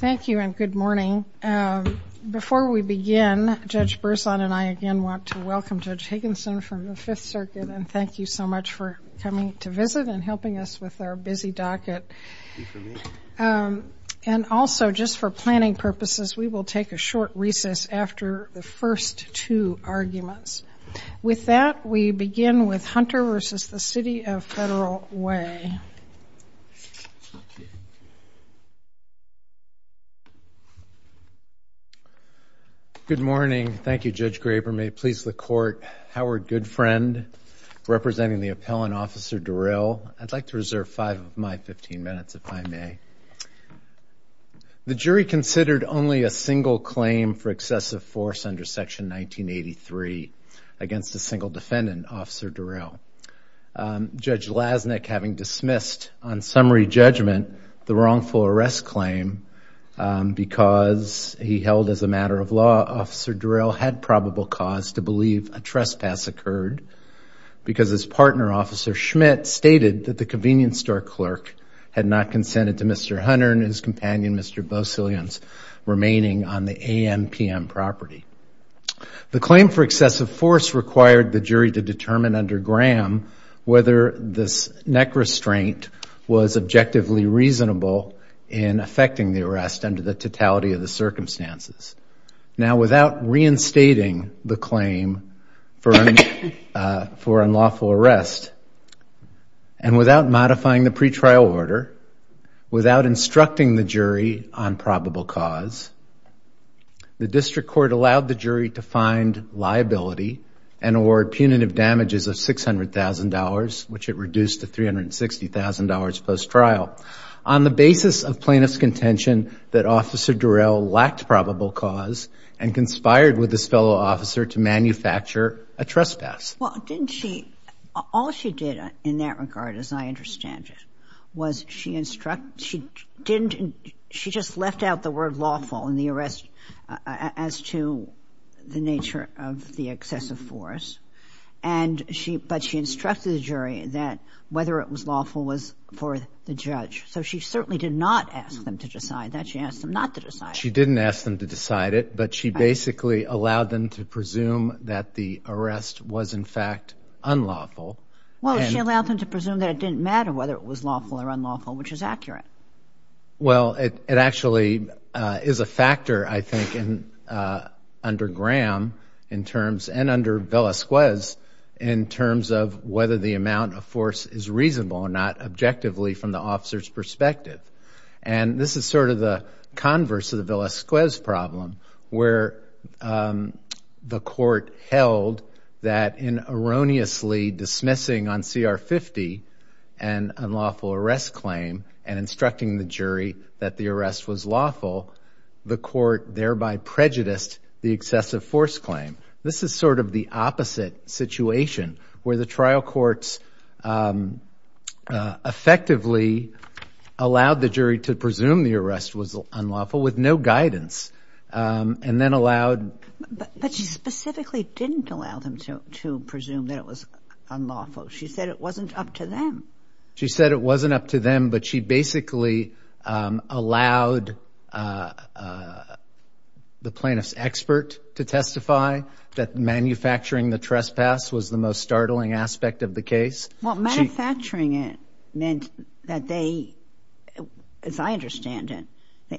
Thank you and good morning. Before we begin, Judge Broussard and I again want to welcome Judge Higginson from the Fifth Circuit and thank you so much for coming to visit and helping us with our busy docket. And also, just for planning purposes, we will take a short recess after the first two arguments. With that, we begin with Hunter v. City of Federal Way. Good morning. Thank you, Judge Graber. May it please the Court, Howard Goodfriend, representing the appellant, Officer Durrell. I'd like to reserve five of my 15 minutes, if I may. The jury considered only a single claim for excessive force under Section 1983 against a single defendant, Officer Durrell. Judge Lasnik, having dismissed on summary judgment the wrongful arrest claim because he held, as a matter of law, Officer Durrell had probable cause to believe a trespass occurred because his partner, Officer Schmidt, stated that the convenience store clerk had not consented to misdemeanor assault. The claim for excessive force required the jury to determine under Graham whether this neck restraint was objectively reasonable in affecting the arrest under the totality of the circumstances. Now, without reinstating the claim for unlawful arrest and without modifying the pretrial order, without instructing the jury on probable cause, the district court allowed the jury to find liability and award punitive damages of $600,000, which it reduced to $360,000 post-trial. On the basis of plaintiff's contention that Officer Durrell lacked probable cause and conspired with his fellow officer to manufacture a trespass. Well, didn't she? All she did in that regard, as I understand it, was she instruct, she didn't, she just left out the word lawful in the arrest as to the nature of the excessive force, and she, but she instructed the jury that whether it was lawful was for the judge. So she certainly did not ask them to decide that. She asked them not to decide it. She didn't ask them to decide it, but she basically allowed them to presume that the arrest was, in fact, unlawful. Well, she allowed them to presume that it didn't matter whether it was lawful or unlawful, which is accurate. Well, it actually is a factor, I think, in, under Graham in terms, and under Villasquez in terms of whether the amount of force is reasonable or not objectively from the officer's perspective. And this is sort of the converse of the Villasquez problem, where the court held that in erroneously dismissing on CR 50 an unlawful arrest claim and instructing the jury that the arrest was lawful, the court thereby prejudiced the excessive force claim. This is sort of the opposite situation, where the trial courts effectively allowed the jury to presume the arrest was unlawful with no guidance and then allowed. But she specifically didn't allow them to presume that it was unlawful. She said it wasn't up to them. manufacturing the trespass was the most startling aspect of the case. Well, manufacturing it meant that they, as I understand it,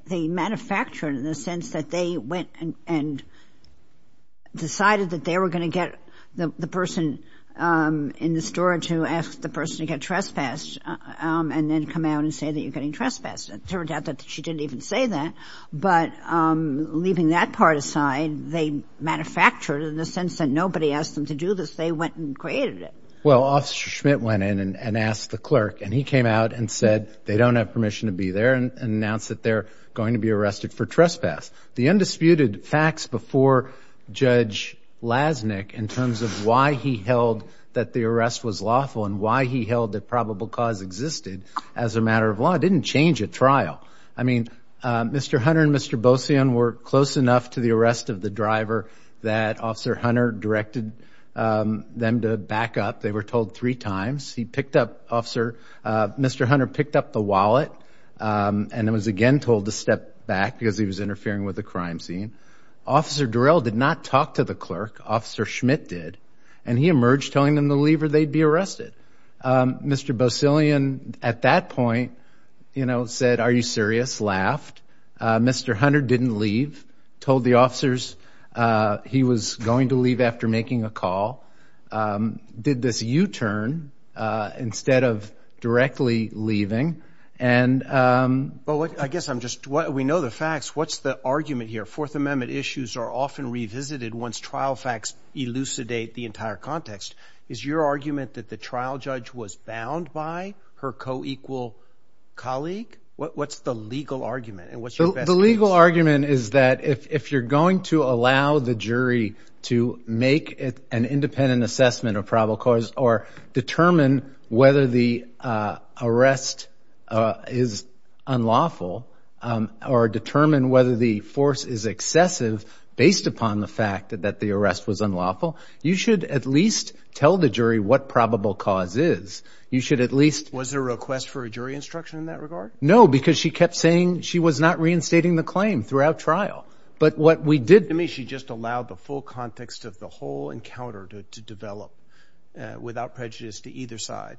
they manufactured it in the sense that they went and decided that they were going to get the person in the store to ask the person to get trespassed and then come out and say that you're getting trespassed. It turned out that she didn't even say that, but leaving that part aside, they manufactured it in the sense that nobody asked them to do this. They went and created it. Well, Officer Schmidt went in and asked the clerk, and he came out and said they don't have permission to be there and announced that they're going to be arrested for trespass. The undisputed facts before Judge Lasnik in terms of why he held that the arrest was lawful and why he held that probable cause existed as a matter of law didn't change at trial. I mean, Mr. Hunter and Mr. Bosian were close enough to the arrest of the driver that Officer Hunter directed them to back up. They were told three times. Mr. Hunter picked up the wallet and was again told to step back because he was interfering with the crime scene. Officer Durrell did not talk to the clerk. Officer Schmidt did, and he emerged telling them to leave or they'd be arrested. Mr. Bosian at that point said, are you serious, laughed. Mr. Hunter didn't leave, told the officers he was going to leave after making a call. Did this U-turn instead of directly leaving. But I guess I'm just, we know the facts. What's the argument here? Fourth Amendment issues are often revisited once trial facts elucidate the entire context. Is your argument that the trial judge was bound by her co-equal colleague? What's the legal argument? The legal argument is that if you're going to allow the jury to make an independent assessment of probable cause or determine whether the arrest is unlawful or determine whether the force is excessive based upon the fact that the arrest was unlawful, you should at least tell the jury what probable cause is. You should at least. Was there a request for a jury instruction in that regard? No, because she kept saying she was not reinstating the claim throughout trial. But what we did. She just allowed the full context of the whole encounter to develop without prejudice to either side.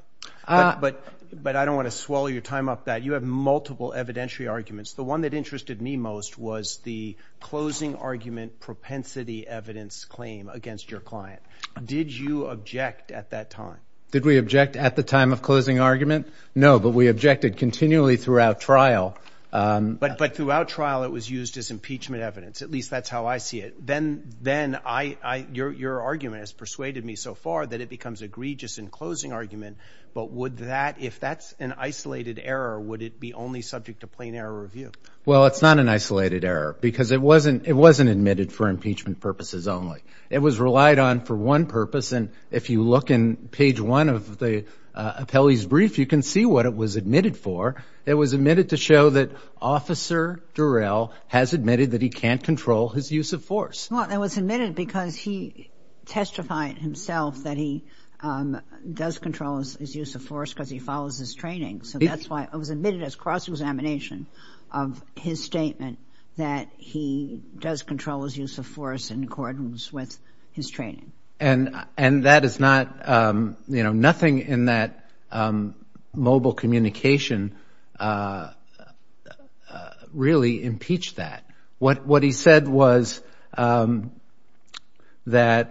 But I don't want to swallow your time off that. You have multiple evidentiary arguments. The one that interested me most was the closing argument propensity evidence claim against your client. Did you object at that time? Did we object at the time of closing argument? No, but we objected continually throughout trial. But throughout trial it was used as impeachment evidence. At least that's how I see it. Then your argument has persuaded me so far that it becomes egregious in closing argument. But if that's an isolated error, would it be only subject to plain error review? Well, it's not an isolated error because it wasn't admitted for impeachment purposes only. It was relied on for one purpose. And if you look in page one of the appellee's brief, you can see what it was admitted for. It was admitted to show that Officer Durrell has admitted that he can't control his use of force. Well, it was admitted because he testified himself that he does control his use of force because he follows his training. So that's why it was admitted as cross-examination of his statement that he does control his use of force in accordance with his training. And that is not, you know, nothing in that mobile communication really impeached that. What he said was that.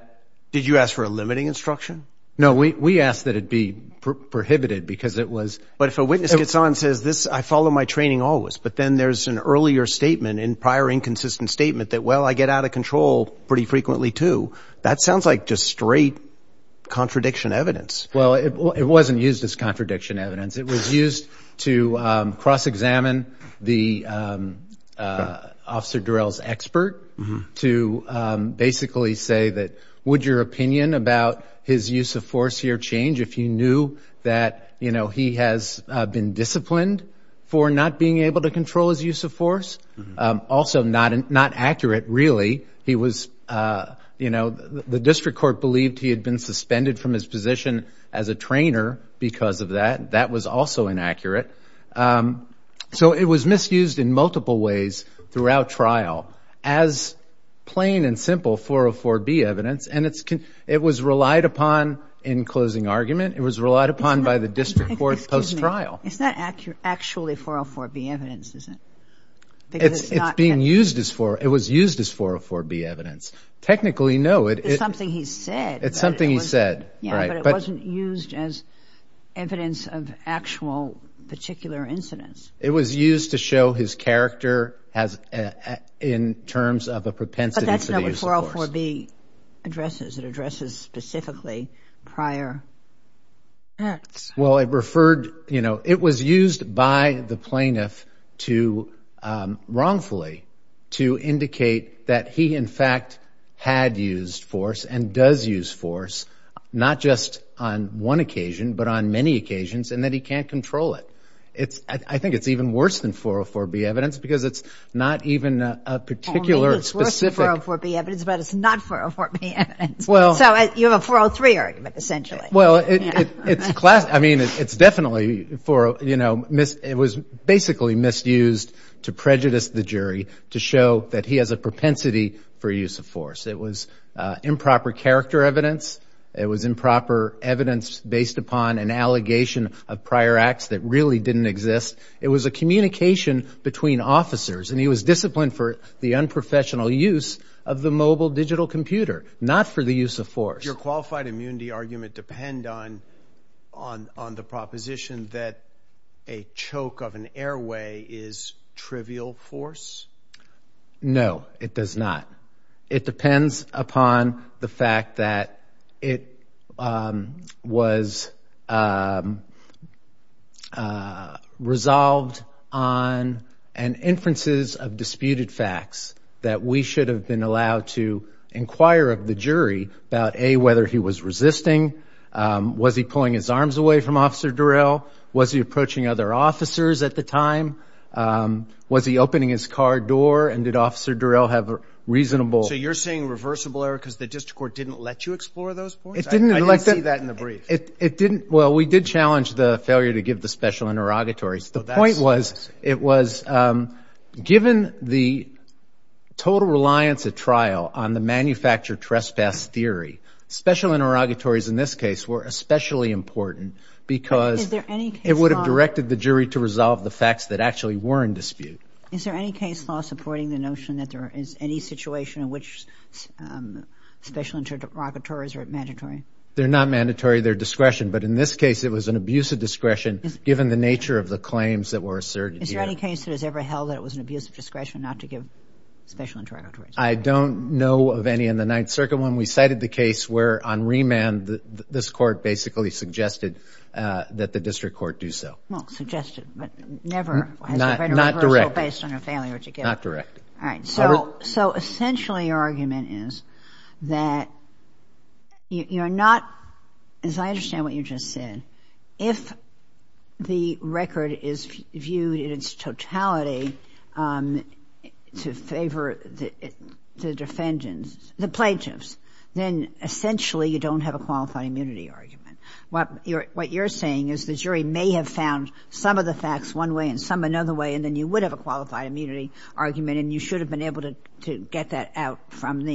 Did you ask for a limiting instruction? No, we asked that it be prohibited because it was. But if a witness gets on and says, I follow my training always, but then there's an earlier statement and prior inconsistent statement that, well, I get out of control pretty frequently too. That sounds like just straight contradiction evidence. Well, it wasn't used as contradiction evidence. It was used to cross-examine the officer drills expert to basically say that. Would your opinion about his use of force here change if you knew that, you know, he has been disciplined for not being able to control his use of force? Also not accurate really. He was, you know, the district court believed he had been suspended from his position as a trainer because of that. That was also inaccurate. So it was misused in multiple ways throughout trial as plain and simple 404B evidence. And it was relied upon in closing argument. It was relied upon by the district court post-trial. It's not actually 404B evidence, is it? It's being used as 404B evidence. Technically, no. It's something he said. It's something he said. Yeah, but it wasn't used as evidence of actual particular incidents. It was used to show his character in terms of a propensity for the use of force. But that's not what 404B addresses. It addresses specifically prior acts. Well, it referred, you know, it was used by the plaintiff to wrongfully to indicate that he, in fact, had used force and does use force not just on one occasion but on many occasions and that he can't control it. I think it's even worse than 404B evidence because it's not even a particular specific. It's worse than 404B evidence but it's not 404B evidence. So you have a 403 argument essentially. Well, I mean, it's definitely for, you know, it was basically misused to prejudice the jury to show that he has a propensity for use of force. It was improper character evidence. It was improper evidence based upon an allegation of prior acts that really didn't exist. It was a communication between officers, and he was disciplined for the unprofessional use of the mobile digital computer, not for the use of force. Does your qualified immunity argument depend on the proposition that a choke of an airway is trivial force? No, it does not. It depends upon the fact that it was resolved on an inferences of disputed facts that we should have been allowed to inquire of the jury about, A, whether he was resisting. Was he pulling his arms away from Officer Durrell? Was he approaching other officers at the time? Was he opening his car door and did Officer Durrell have a reasonable? So you're saying reversible error because the district court didn't let you explore those points? I didn't see that in the brief. It didn't. Well, we did challenge the failure to give the special interrogatories. The point was it was given the total reliance at trial on the manufactured trespass theory, special interrogatories in this case were especially important because it would have directed the jury to resolve the facts that actually were in dispute. Is there any case law supporting the notion that there is any situation in which special interrogatories are mandatory? They're not mandatory. They're discretion. But in this case it was an abuse of discretion given the nature of the claims that were asserted here. Is there any case that has ever held that it was an abuse of discretion not to give special interrogatories? I don't know of any in the Ninth Circuit. When we cited the case where on remand this court basically suggested that the district court do so. Well, suggested, but never has there been a reversal based on a failure to give. Not directed. All right. So essentially your argument is that you're not, as I understand what you just said, if the record is viewed in its totality to favor the defendant, the plaintiffs, then essentially you don't have a qualified immunity argument. What you're saying is the jury may have found some of the facts one way and some another way and then you would have a qualified immunity argument and you should have been able to get that out from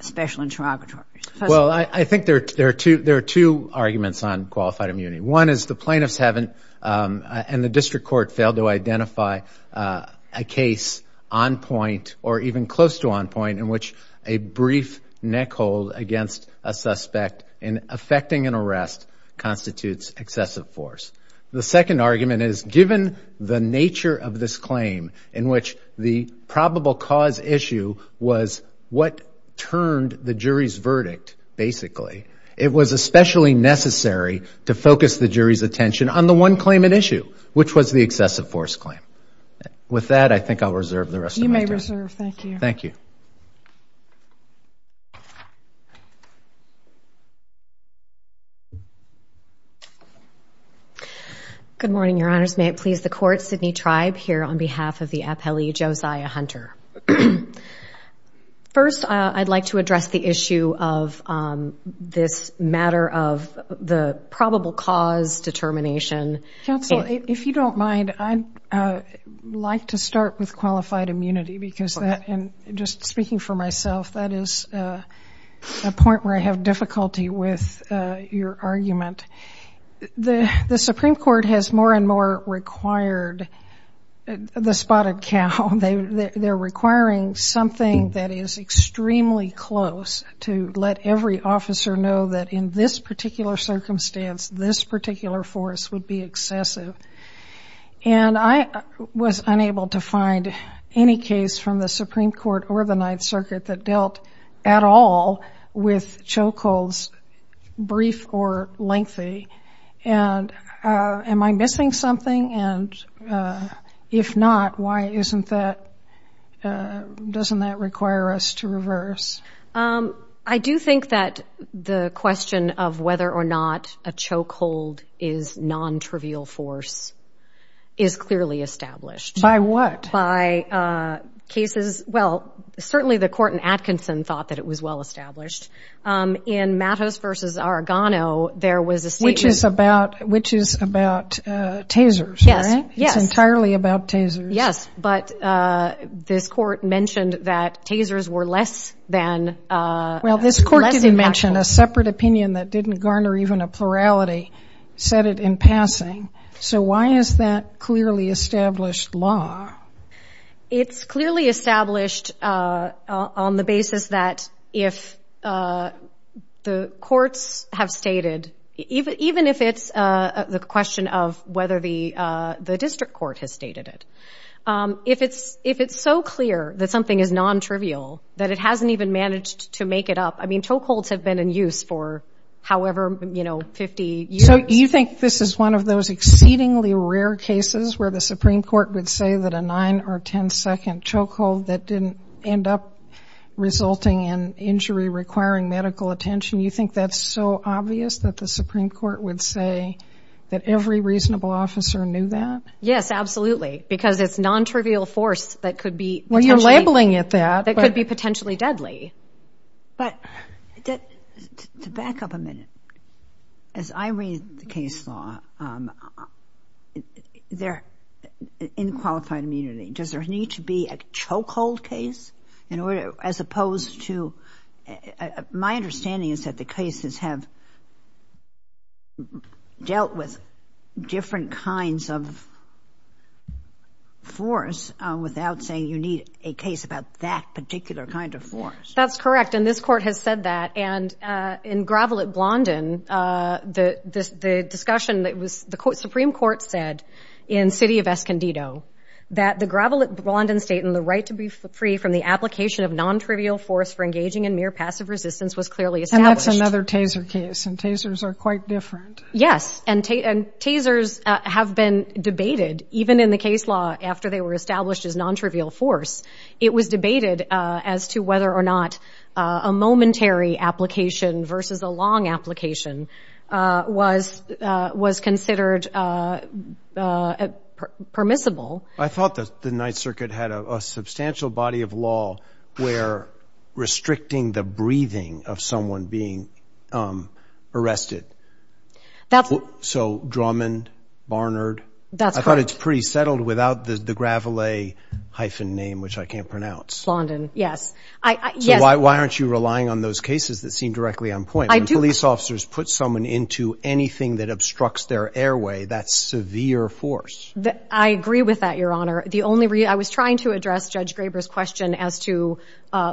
special interrogatories. Well, I think there are two arguments on qualified immunity. One is the plaintiffs haven't and the district court failed to identify a case on point or even close to on point in which a brief neck hold against a suspect in effecting an arrest constitutes excessive force. The second argument is given the nature of this claim in which the probable cause issue was what turned the jury's verdict basically, it was especially necessary to focus the jury's attention on the one claim at issue, which was the excessive force claim. With that, I think I'll reserve the rest of my time. You may reserve. Thank you. Thank you. Thank you. Good morning, Your Honors. May it please the court, Sidney Tribe here on behalf of the appellee Josiah Hunter. First, I'd like to address the issue of this matter of the probable cause determination. Counsel, if you don't mind, I'd like to start with qualified immunity because just speaking for myself, that is a point where I have difficulty with your argument. The Supreme Court has more and more required the spotted cow. They're requiring something that is extremely close to let every officer know that in this particular circumstance, this particular force would be excessive. And I was unable to find any case from the Supreme Court or the Ninth Circuit that dealt at all with choke holds, brief or lengthy. And am I missing something? And if not, why isn't that doesn't that require us to reverse? I do think that the question of whether or not a choke hold is non-trivial force is clearly established. By what? By cases. Well, certainly the court in Atkinson thought that it was well established. In Mattos v. Arrigano, there was a statement. Which is about tasers, right? Yes. It's entirely about tasers. Yes, but this court mentioned that tasers were less than actual. Well, this court didn't mention a separate opinion that didn't garner even a plurality, said it in passing. So why is that clearly established law? It's clearly established on the basis that if the courts have stated, even if it's the question of whether the district court has stated it, if it's so clear that something is non-trivial that it hasn't even managed to make it up, I mean, choke holds have been in use for however, you know, 50 years. So you think this is one of those exceedingly rare cases where the Supreme Court would say that a 9- or 10-second choke hold that didn't end up resulting in injury requiring medical attention, you think that's so obvious that the Supreme Court would say that every reasonable officer knew that? Yes, absolutely. Because it's non-trivial force that could be potentially deadly. But to back up a minute, as I read the case law, in qualified immunity, does there need to be a choke hold case? As opposed to my understanding is that the cases have dealt with different kinds of force without saying you need a case about that particular kind of force. That's correct, and this Court has said that. And in Gravel at Blondin, the discussion that was the Supreme Court said in City of Escondido that the Gravel at Blondin State and the right to be free from the application of non-trivial force for engaging in mere passive resistance was clearly established. And that's another TASER case, and TASERs are quite different. Yes, and TASERs have been debated even in the case law after they were established as non-trivial force. It was debated as to whether or not a momentary application versus a long application was considered permissible. I thought that the Ninth Circuit had a substantial body of law where restricting the breathing of someone being arrested. So Drummond, Barnard. I thought it's pretty settled without the Gravel-A hyphen name, which I can't pronounce. Blondin, yes. So why aren't you relying on those cases that seem directly on point? When police officers put someone into anything that obstructs their airway, that's severe force. I agree with that, Your Honor. I was trying to address Judge Graber's question as to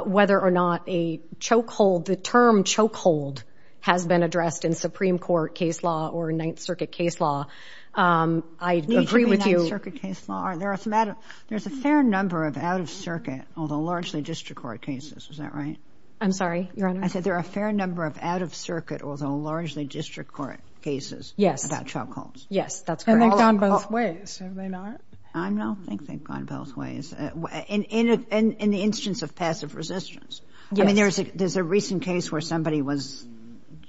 whether or not a chokehold, the term chokehold has been addressed in Supreme Court case law or Ninth Circuit case law. I agree with you. There's a fair number of out-of-circuit, although largely district court cases. Is that right? I'm sorry, Your Honor? I said there are a fair number of out-of-circuit, although largely district court cases about chokeholds. Yes, that's correct. And they've gone both ways, have they not? I don't think they've gone both ways. In the instance of passive resistance. Yes. I mean, there's a recent case where somebody was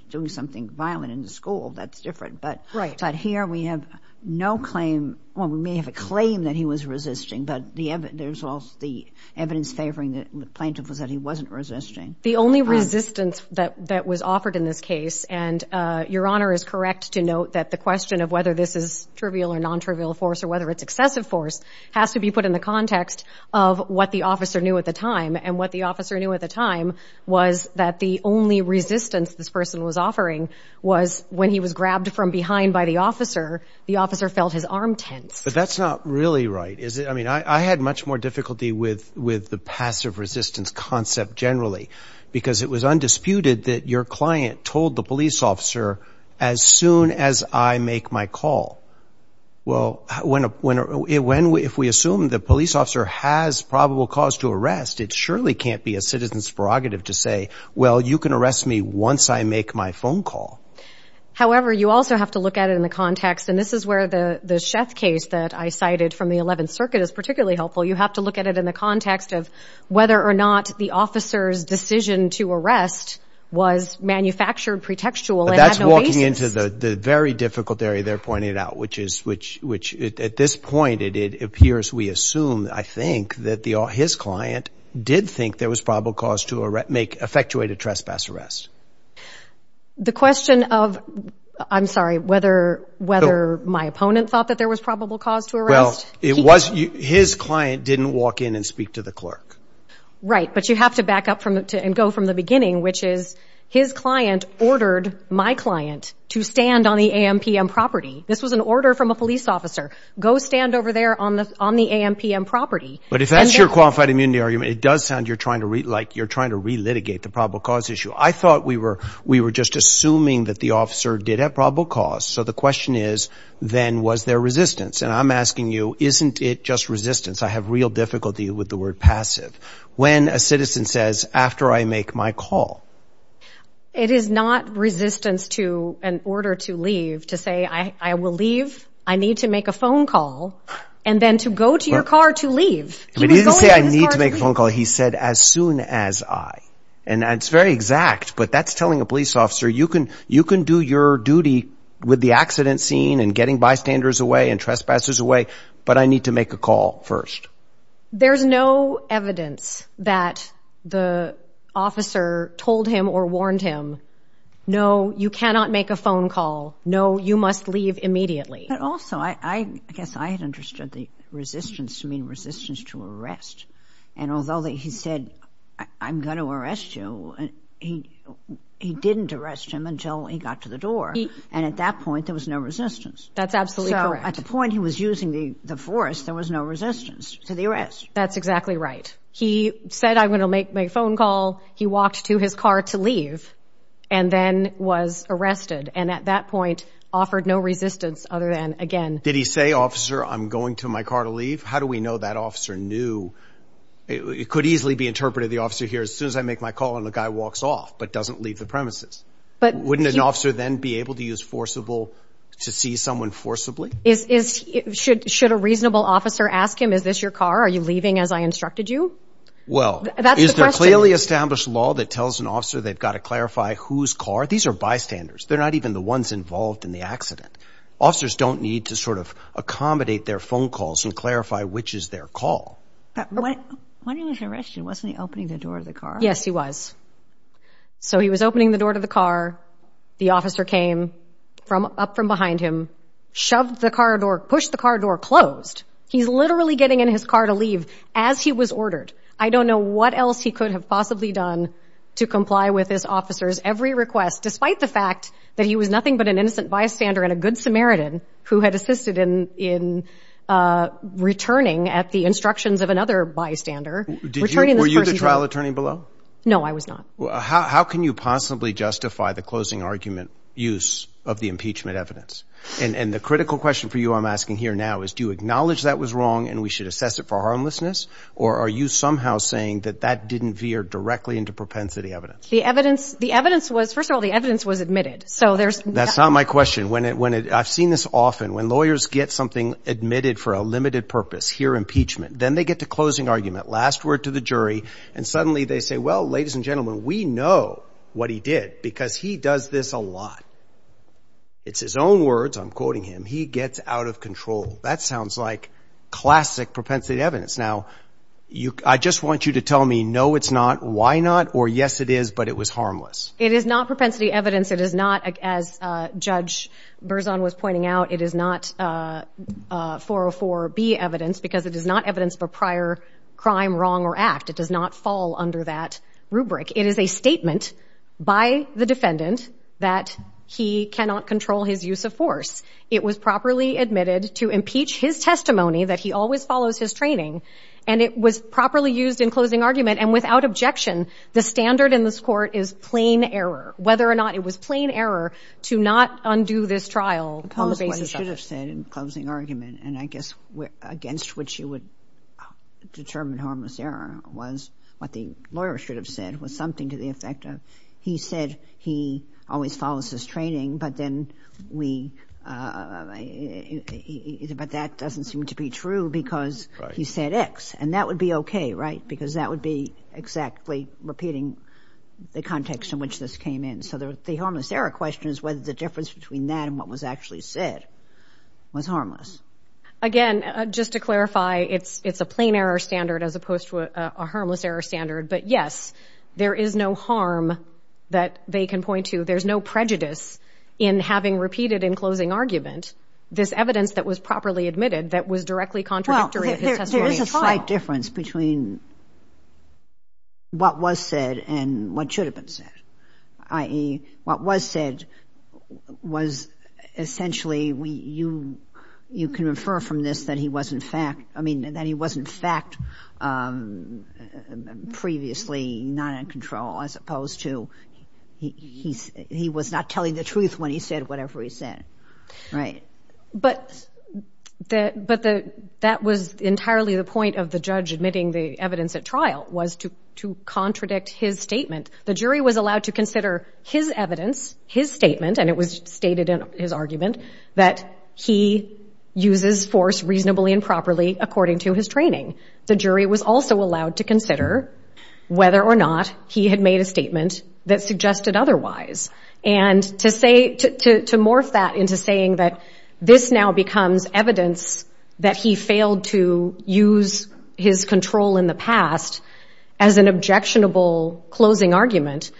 doing something violent in the school. That's different. Right. But here we have no claim. Well, we may have a claim that he was resisting, but there's also the evidence favoring the plaintiff was that he wasn't resisting. The only resistance that was offered in this case, and Your Honor is correct to note that the question of whether this is trivial or non-trivial force or whether it's excessive force has to be put in the context of what the officer knew at the time. And what the officer knew at the time was that the only resistance this person was offering was when he was grabbed from behind by the officer, the officer felt his arm tense. But that's not really right, is it? I mean, I had much more difficulty with the passive resistance concept generally because it was undisputed that your client told the police officer as soon as I make my call. Well, if we assume the police officer has probable cause to arrest, it surely can't be a citizen's prerogative to say, well, you can arrest me once I make my phone call. However, you also have to look at it in the context, and this is where the Sheff case that I cited from the 11th Circuit is particularly helpful. You have to look at it in the context of whether or not the officer's decision to arrest was manufactured pretextual. But that's walking into the very difficult area they're pointing out, which at this point it appears we assume, I think, that his client did think there was probable cause to effectuate a trespass arrest. The question of, I'm sorry, whether my opponent thought that there was probable cause to arrest? Well, his client didn't walk in and speak to the clerk. Right, but you have to back up and go from the beginning, which is his client ordered my client to stand on the AM-PM property. This was an order from a police officer. Go stand over there on the AM-PM property. But if that's your qualified immunity argument, it does sound like you're trying to relitigate the probable cause issue. I thought we were just assuming that the officer did have probable cause. So the question is, then, was there resistance? And I'm asking you, isn't it just resistance? I have real difficulty with the word passive. When a citizen says, after I make my call. It is not resistance to an order to leave to say, I will leave. I need to make a phone call. And then to go to your car to leave. He didn't say, I need to make a phone call. He said, as soon as I. And that's very exact, but that's telling a police officer, you can do your duty with the accident scene and getting bystanders away and trespassers away, but I need to make a call first. There's no evidence that the officer told him or warned him, no, you cannot make a phone call. No, you must leave immediately. But also, I guess I had understood the resistance to mean resistance to arrest. And although he said, I'm going to arrest you, he didn't arrest him until he got to the door. And at that point, there was no resistance. That's absolutely correct. So at the point he was using the force, there was no resistance to the arrest. That's exactly right. He said, I'm going to make my phone call. He walked to his car to leave and then was arrested. And at that point, offered no resistance other than, again. Did he say, officer, I'm going to my car to leave? How do we know that officer knew? It could easily be interpreted the officer here, as soon as I make my call and the guy walks off but doesn't leave the premises. Wouldn't an officer then be able to use forcible to see someone forcibly? Should a reasonable officer ask him, is this your car? Are you leaving as I instructed you? Well, is there a clearly established law that tells an officer they've got to clarify whose car? These are bystanders. They're not even the ones involved in the accident. Officers don't need to sort of accommodate their phone calls and clarify which is their call. But when he was arrested, wasn't he opening the door of the car? Yes, he was. So he was opening the door to the car. The officer came up from behind him, shoved the car door, pushed the car door, closed. He's literally getting in his car to leave as he was ordered. I don't know what else he could have possibly done to comply with his officer's every request, despite the fact that he was nothing but an innocent bystander and a good Samaritan who had assisted in returning at the instructions of another bystander. Were you the trial attorney below? No, I was not. How can you possibly justify the closing argument use of the impeachment evidence? And the critical question for you I'm asking here now is do you acknowledge that was wrong and we should assess it for harmlessness, or are you somehow saying that that didn't veer directly into propensity evidence? The evidence was, first of all, the evidence was admitted. That's not my question. I've seen this often. When lawyers get something admitted for a limited purpose, hear impeachment, then they get to closing argument, last word to the jury, and suddenly they say, well, ladies and gentlemen, we know what he did because he does this a lot. It's his own words. I'm quoting him. He gets out of control. That sounds like classic propensity evidence. Now, I just want you to tell me no it's not, why not, or yes it is, but it was harmless. It is not propensity evidence. It is not, as Judge Berzon was pointing out, it is not 404B evidence because it is not evidence of a prior crime, wrong, or act. It does not fall under that rubric. It is a statement by the defendant that he cannot control his use of force. It was properly admitted to impeach his testimony that he always follows his training, and it was properly used in closing argument. And without objection, the standard in this court is plain error, whether or not it was plain error to not undo this trial on the basis of it. The public should have said in closing argument, and I guess against which you would determine harmless error, was what the lawyer should have said was something to the effect of, he said he always follows his training, but then we, but that doesn't seem to be true because he said X, and that would be okay, right, because that would be exactly repeating the context in which this came in. So the harmless error question is whether the difference between that and what was actually said was harmless. Again, just to clarify, it's a plain error standard as opposed to a harmless error standard, but, yes, there is no harm that they can point to. There's no prejudice in having repeated in closing argument this evidence that was properly admitted that was directly contradictory to his testimony at trial. Well, there is a slight difference between what was said and what should have been said, i.e., what was said was essentially, you can refer from this, that he was in fact previously not in control as opposed to he was not telling the truth when he said whatever he said. Right. But that was entirely the point of the judge admitting the evidence at trial was to contradict his statement. The jury was allowed to consider his evidence, his statement, and it was stated in his argument, that he uses force reasonably and properly according to his training. The jury was also allowed to consider whether or not he had made a statement that suggested otherwise. And to morph that into saying that this now becomes evidence that he failed to use his control in the past as an objectionable closing argument,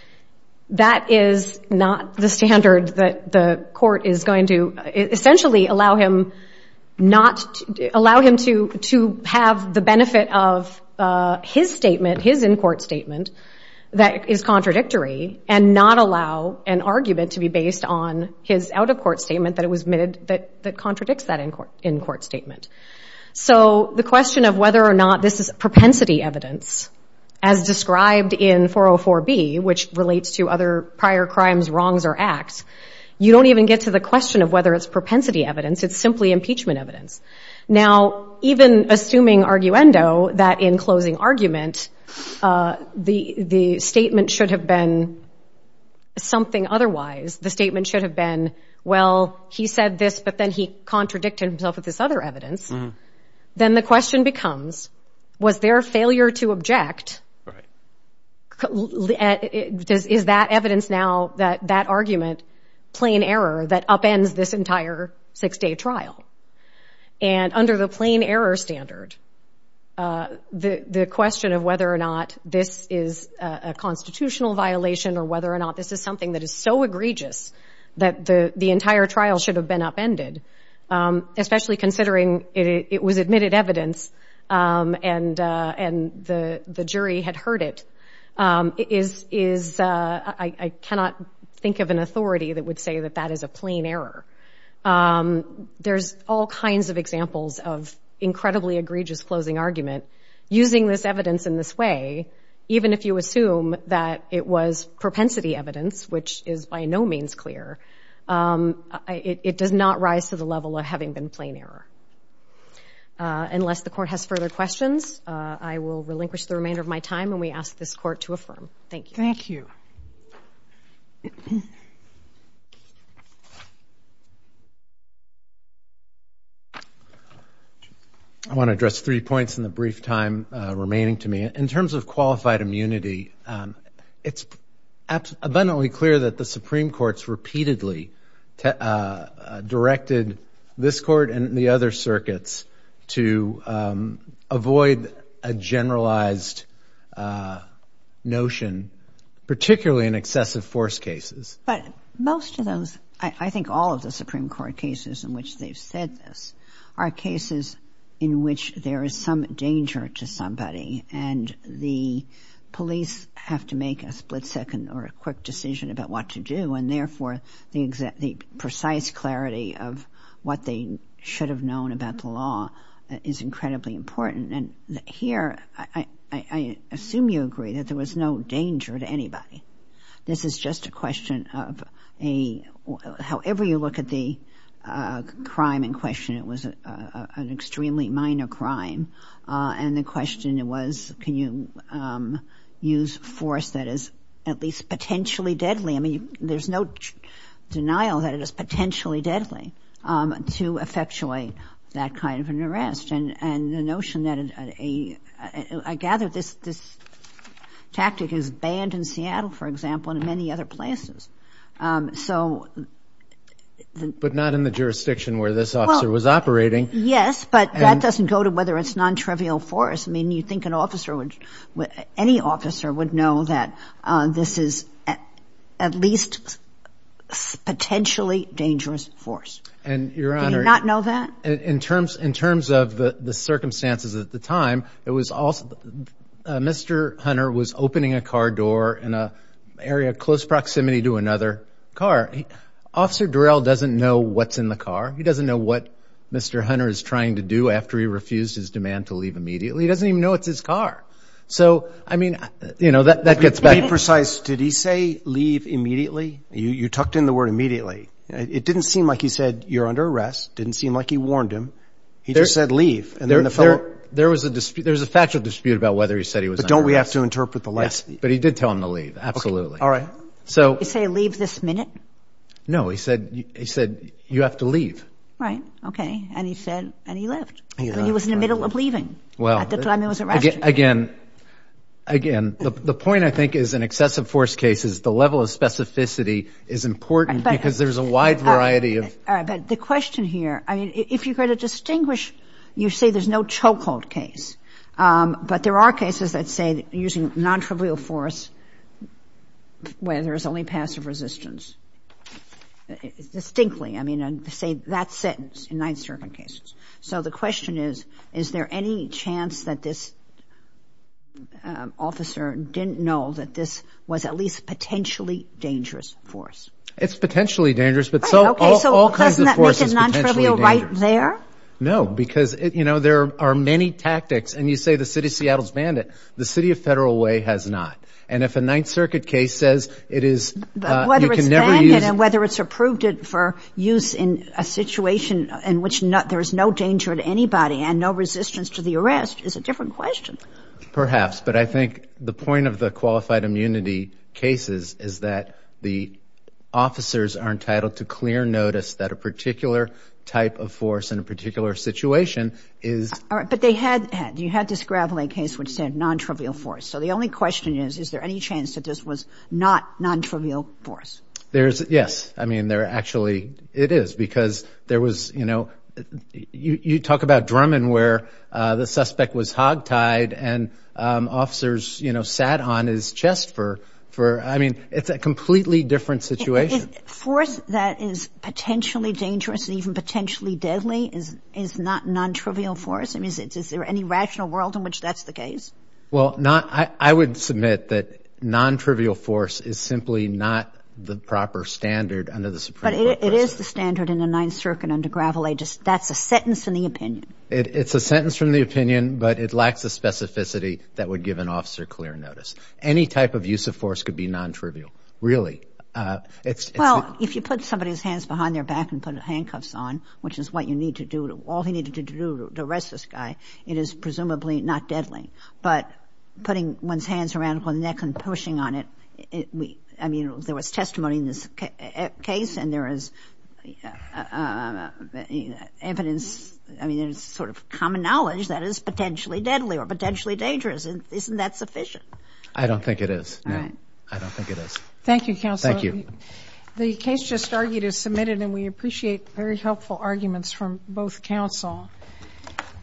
that is not the standard that the court is going to essentially allow him to have the benefit of his statement, his in-court statement, that is contradictory and not allow an argument to be based on his out-of-court statement that contradicts that in-court statement. So the question of whether or not this is propensity evidence, as described in 404B, which relates to other prior crimes, wrongs, or acts, you don't even get to the question of whether it's propensity evidence. It's simply impeachment evidence. Now, even assuming arguendo, that in closing argument, the statement should have been something otherwise. The statement should have been, well, he said this, but then he contradicted himself with this other evidence. Then the question becomes, was there a failure to object? Is that evidence now, that argument, plain error that upends this entire six-day trial? And under the plain error standard, the question of whether or not this is a constitutional violation or whether or not this is something that is so egregious that the entire trial should have been upended, especially considering it was admitted evidence and the jury had heard it, is I cannot think of an authority that would say that that is a plain error. There's all kinds of examples of incredibly egregious closing argument. Using this evidence in this way, even if you assume that it was propensity evidence, which is by no means clear, it does not rise to the level of having been plain error. Unless the Court has further questions, I will relinquish the remainder of my time, and we ask this Court to affirm. Thank you. Thank you. Thank you. I want to address three points in the brief time remaining to me. In terms of qualified immunity, it's abundantly clear that the Supreme Court's repeatedly directed this Court and the other circuits to avoid a generalized notion, particularly in excessive force cases. But most of those, I think all of the Supreme Court cases in which they've said this, are cases in which there is some danger to somebody, and the police have to make a split second or a quick decision about what to do, and therefore the precise clarity of what they should have known about the law is incredibly important. And here, I assume you agree that there was no danger to anybody. This is just a question of a — however you look at the crime in question, it was an extremely minor crime. And the question was, can you use force that is at least potentially deadly? I mean, there's no denial that it is potentially deadly to effectuate that kind of an arrest. And the notion that a — I gather this tactic is banned in Seattle, for example, and in many other places. So — But not in the jurisdiction where this officer was operating. Yes, but that doesn't go to whether it's nontrivial force. I mean, you think an officer would — any officer would know that this is at least potentially dangerous force. And, Your Honor — Do you not know that? In terms of the circumstances at the time, it was also — Mr. Hunter was opening a car door in an area close proximity to another car. Officer Durrell doesn't know what's in the car. He doesn't know what Mr. Hunter is trying to do after he refused his demand to leave immediately. He doesn't even know it's his car. So, I mean, you know, that gets back — To be precise, did he say, leave immediately? You tucked in the word immediately. It didn't seem like he said, you're under arrest. It didn't seem like he warned him. He just said, leave. And then the fellow — There was a dispute — there was a factual dispute about whether he said he was under arrest. But don't we have to interpret the last — Yes, but he did tell him to leave. Absolutely. All right. So — Did he say, leave this minute? No. He said, you have to leave. Right. OK. And he said — and he left. He was in the middle of leaving. Well — At the time he was arrested. Again, again, the point, I think, is in excessive force cases, the level of specificity is important because there's a wide variety of — All right. But the question here — I mean, if you're going to distinguish, you say there's no chokehold case. But there are cases that say using non-trivial force where there's only passive resistance. Distinctly, I mean, to say that sentence in Ninth Circuit cases. So the question is, is there any chance that this officer didn't know that this was at least potentially dangerous force? It's potentially dangerous, but so all kinds of force is potentially dangerous. So doesn't that make it non-trivial right there? No, because, you know, there are many tactics. And you say the city of Seattle's banned it. The city of Federal Way has not. And if a Ninth Circuit case says it is — Whether it's banned it and whether it's approved it for use in a situation in which there's no danger to anybody and no resistance to the arrest is a different question. Perhaps. But I think the point of the qualified immunity cases is that the officers are entitled to clear notice that a particular type of force in a particular situation is — All right. But they had — you had this Gravelay case which said non-trivial force. So the only question is, is there any chance that this was not non-trivial force? There's — yes. I mean, there actually — it is. Because there was — you know, you talk about Drummond where the suspect was hogtied and officers, you know, sat on his chest for — I mean, it's a completely different situation. Force that is potentially dangerous and even potentially deadly is not non-trivial force? I mean, is there any rational world in which that's the case? Well, not — I would submit that non-trivial force is simply not the proper standard under the Supreme Court process. But it is the standard in the Ninth Circuit under Gravelay. That's a sentence from the opinion. It's a sentence from the opinion, but it lacks the specificity that would give an officer clear notice. Any type of use of force could be non-trivial, really. It's — Well, if you put somebody's hands behind their back and put handcuffs on, which is what you need to do — all he needed to do to arrest this guy, it is presumably not deadly. But putting one's hands around one's neck and pushing on it, I mean, there was testimony in this case and there is evidence — I mean, there's sort of common knowledge that it's potentially deadly or potentially dangerous. Isn't that sufficient? I don't think it is. All right. I don't think it is. Thank you, Counselor. Thank you. The case just argued is submitted, and we appreciate very helpful arguments from both counsel.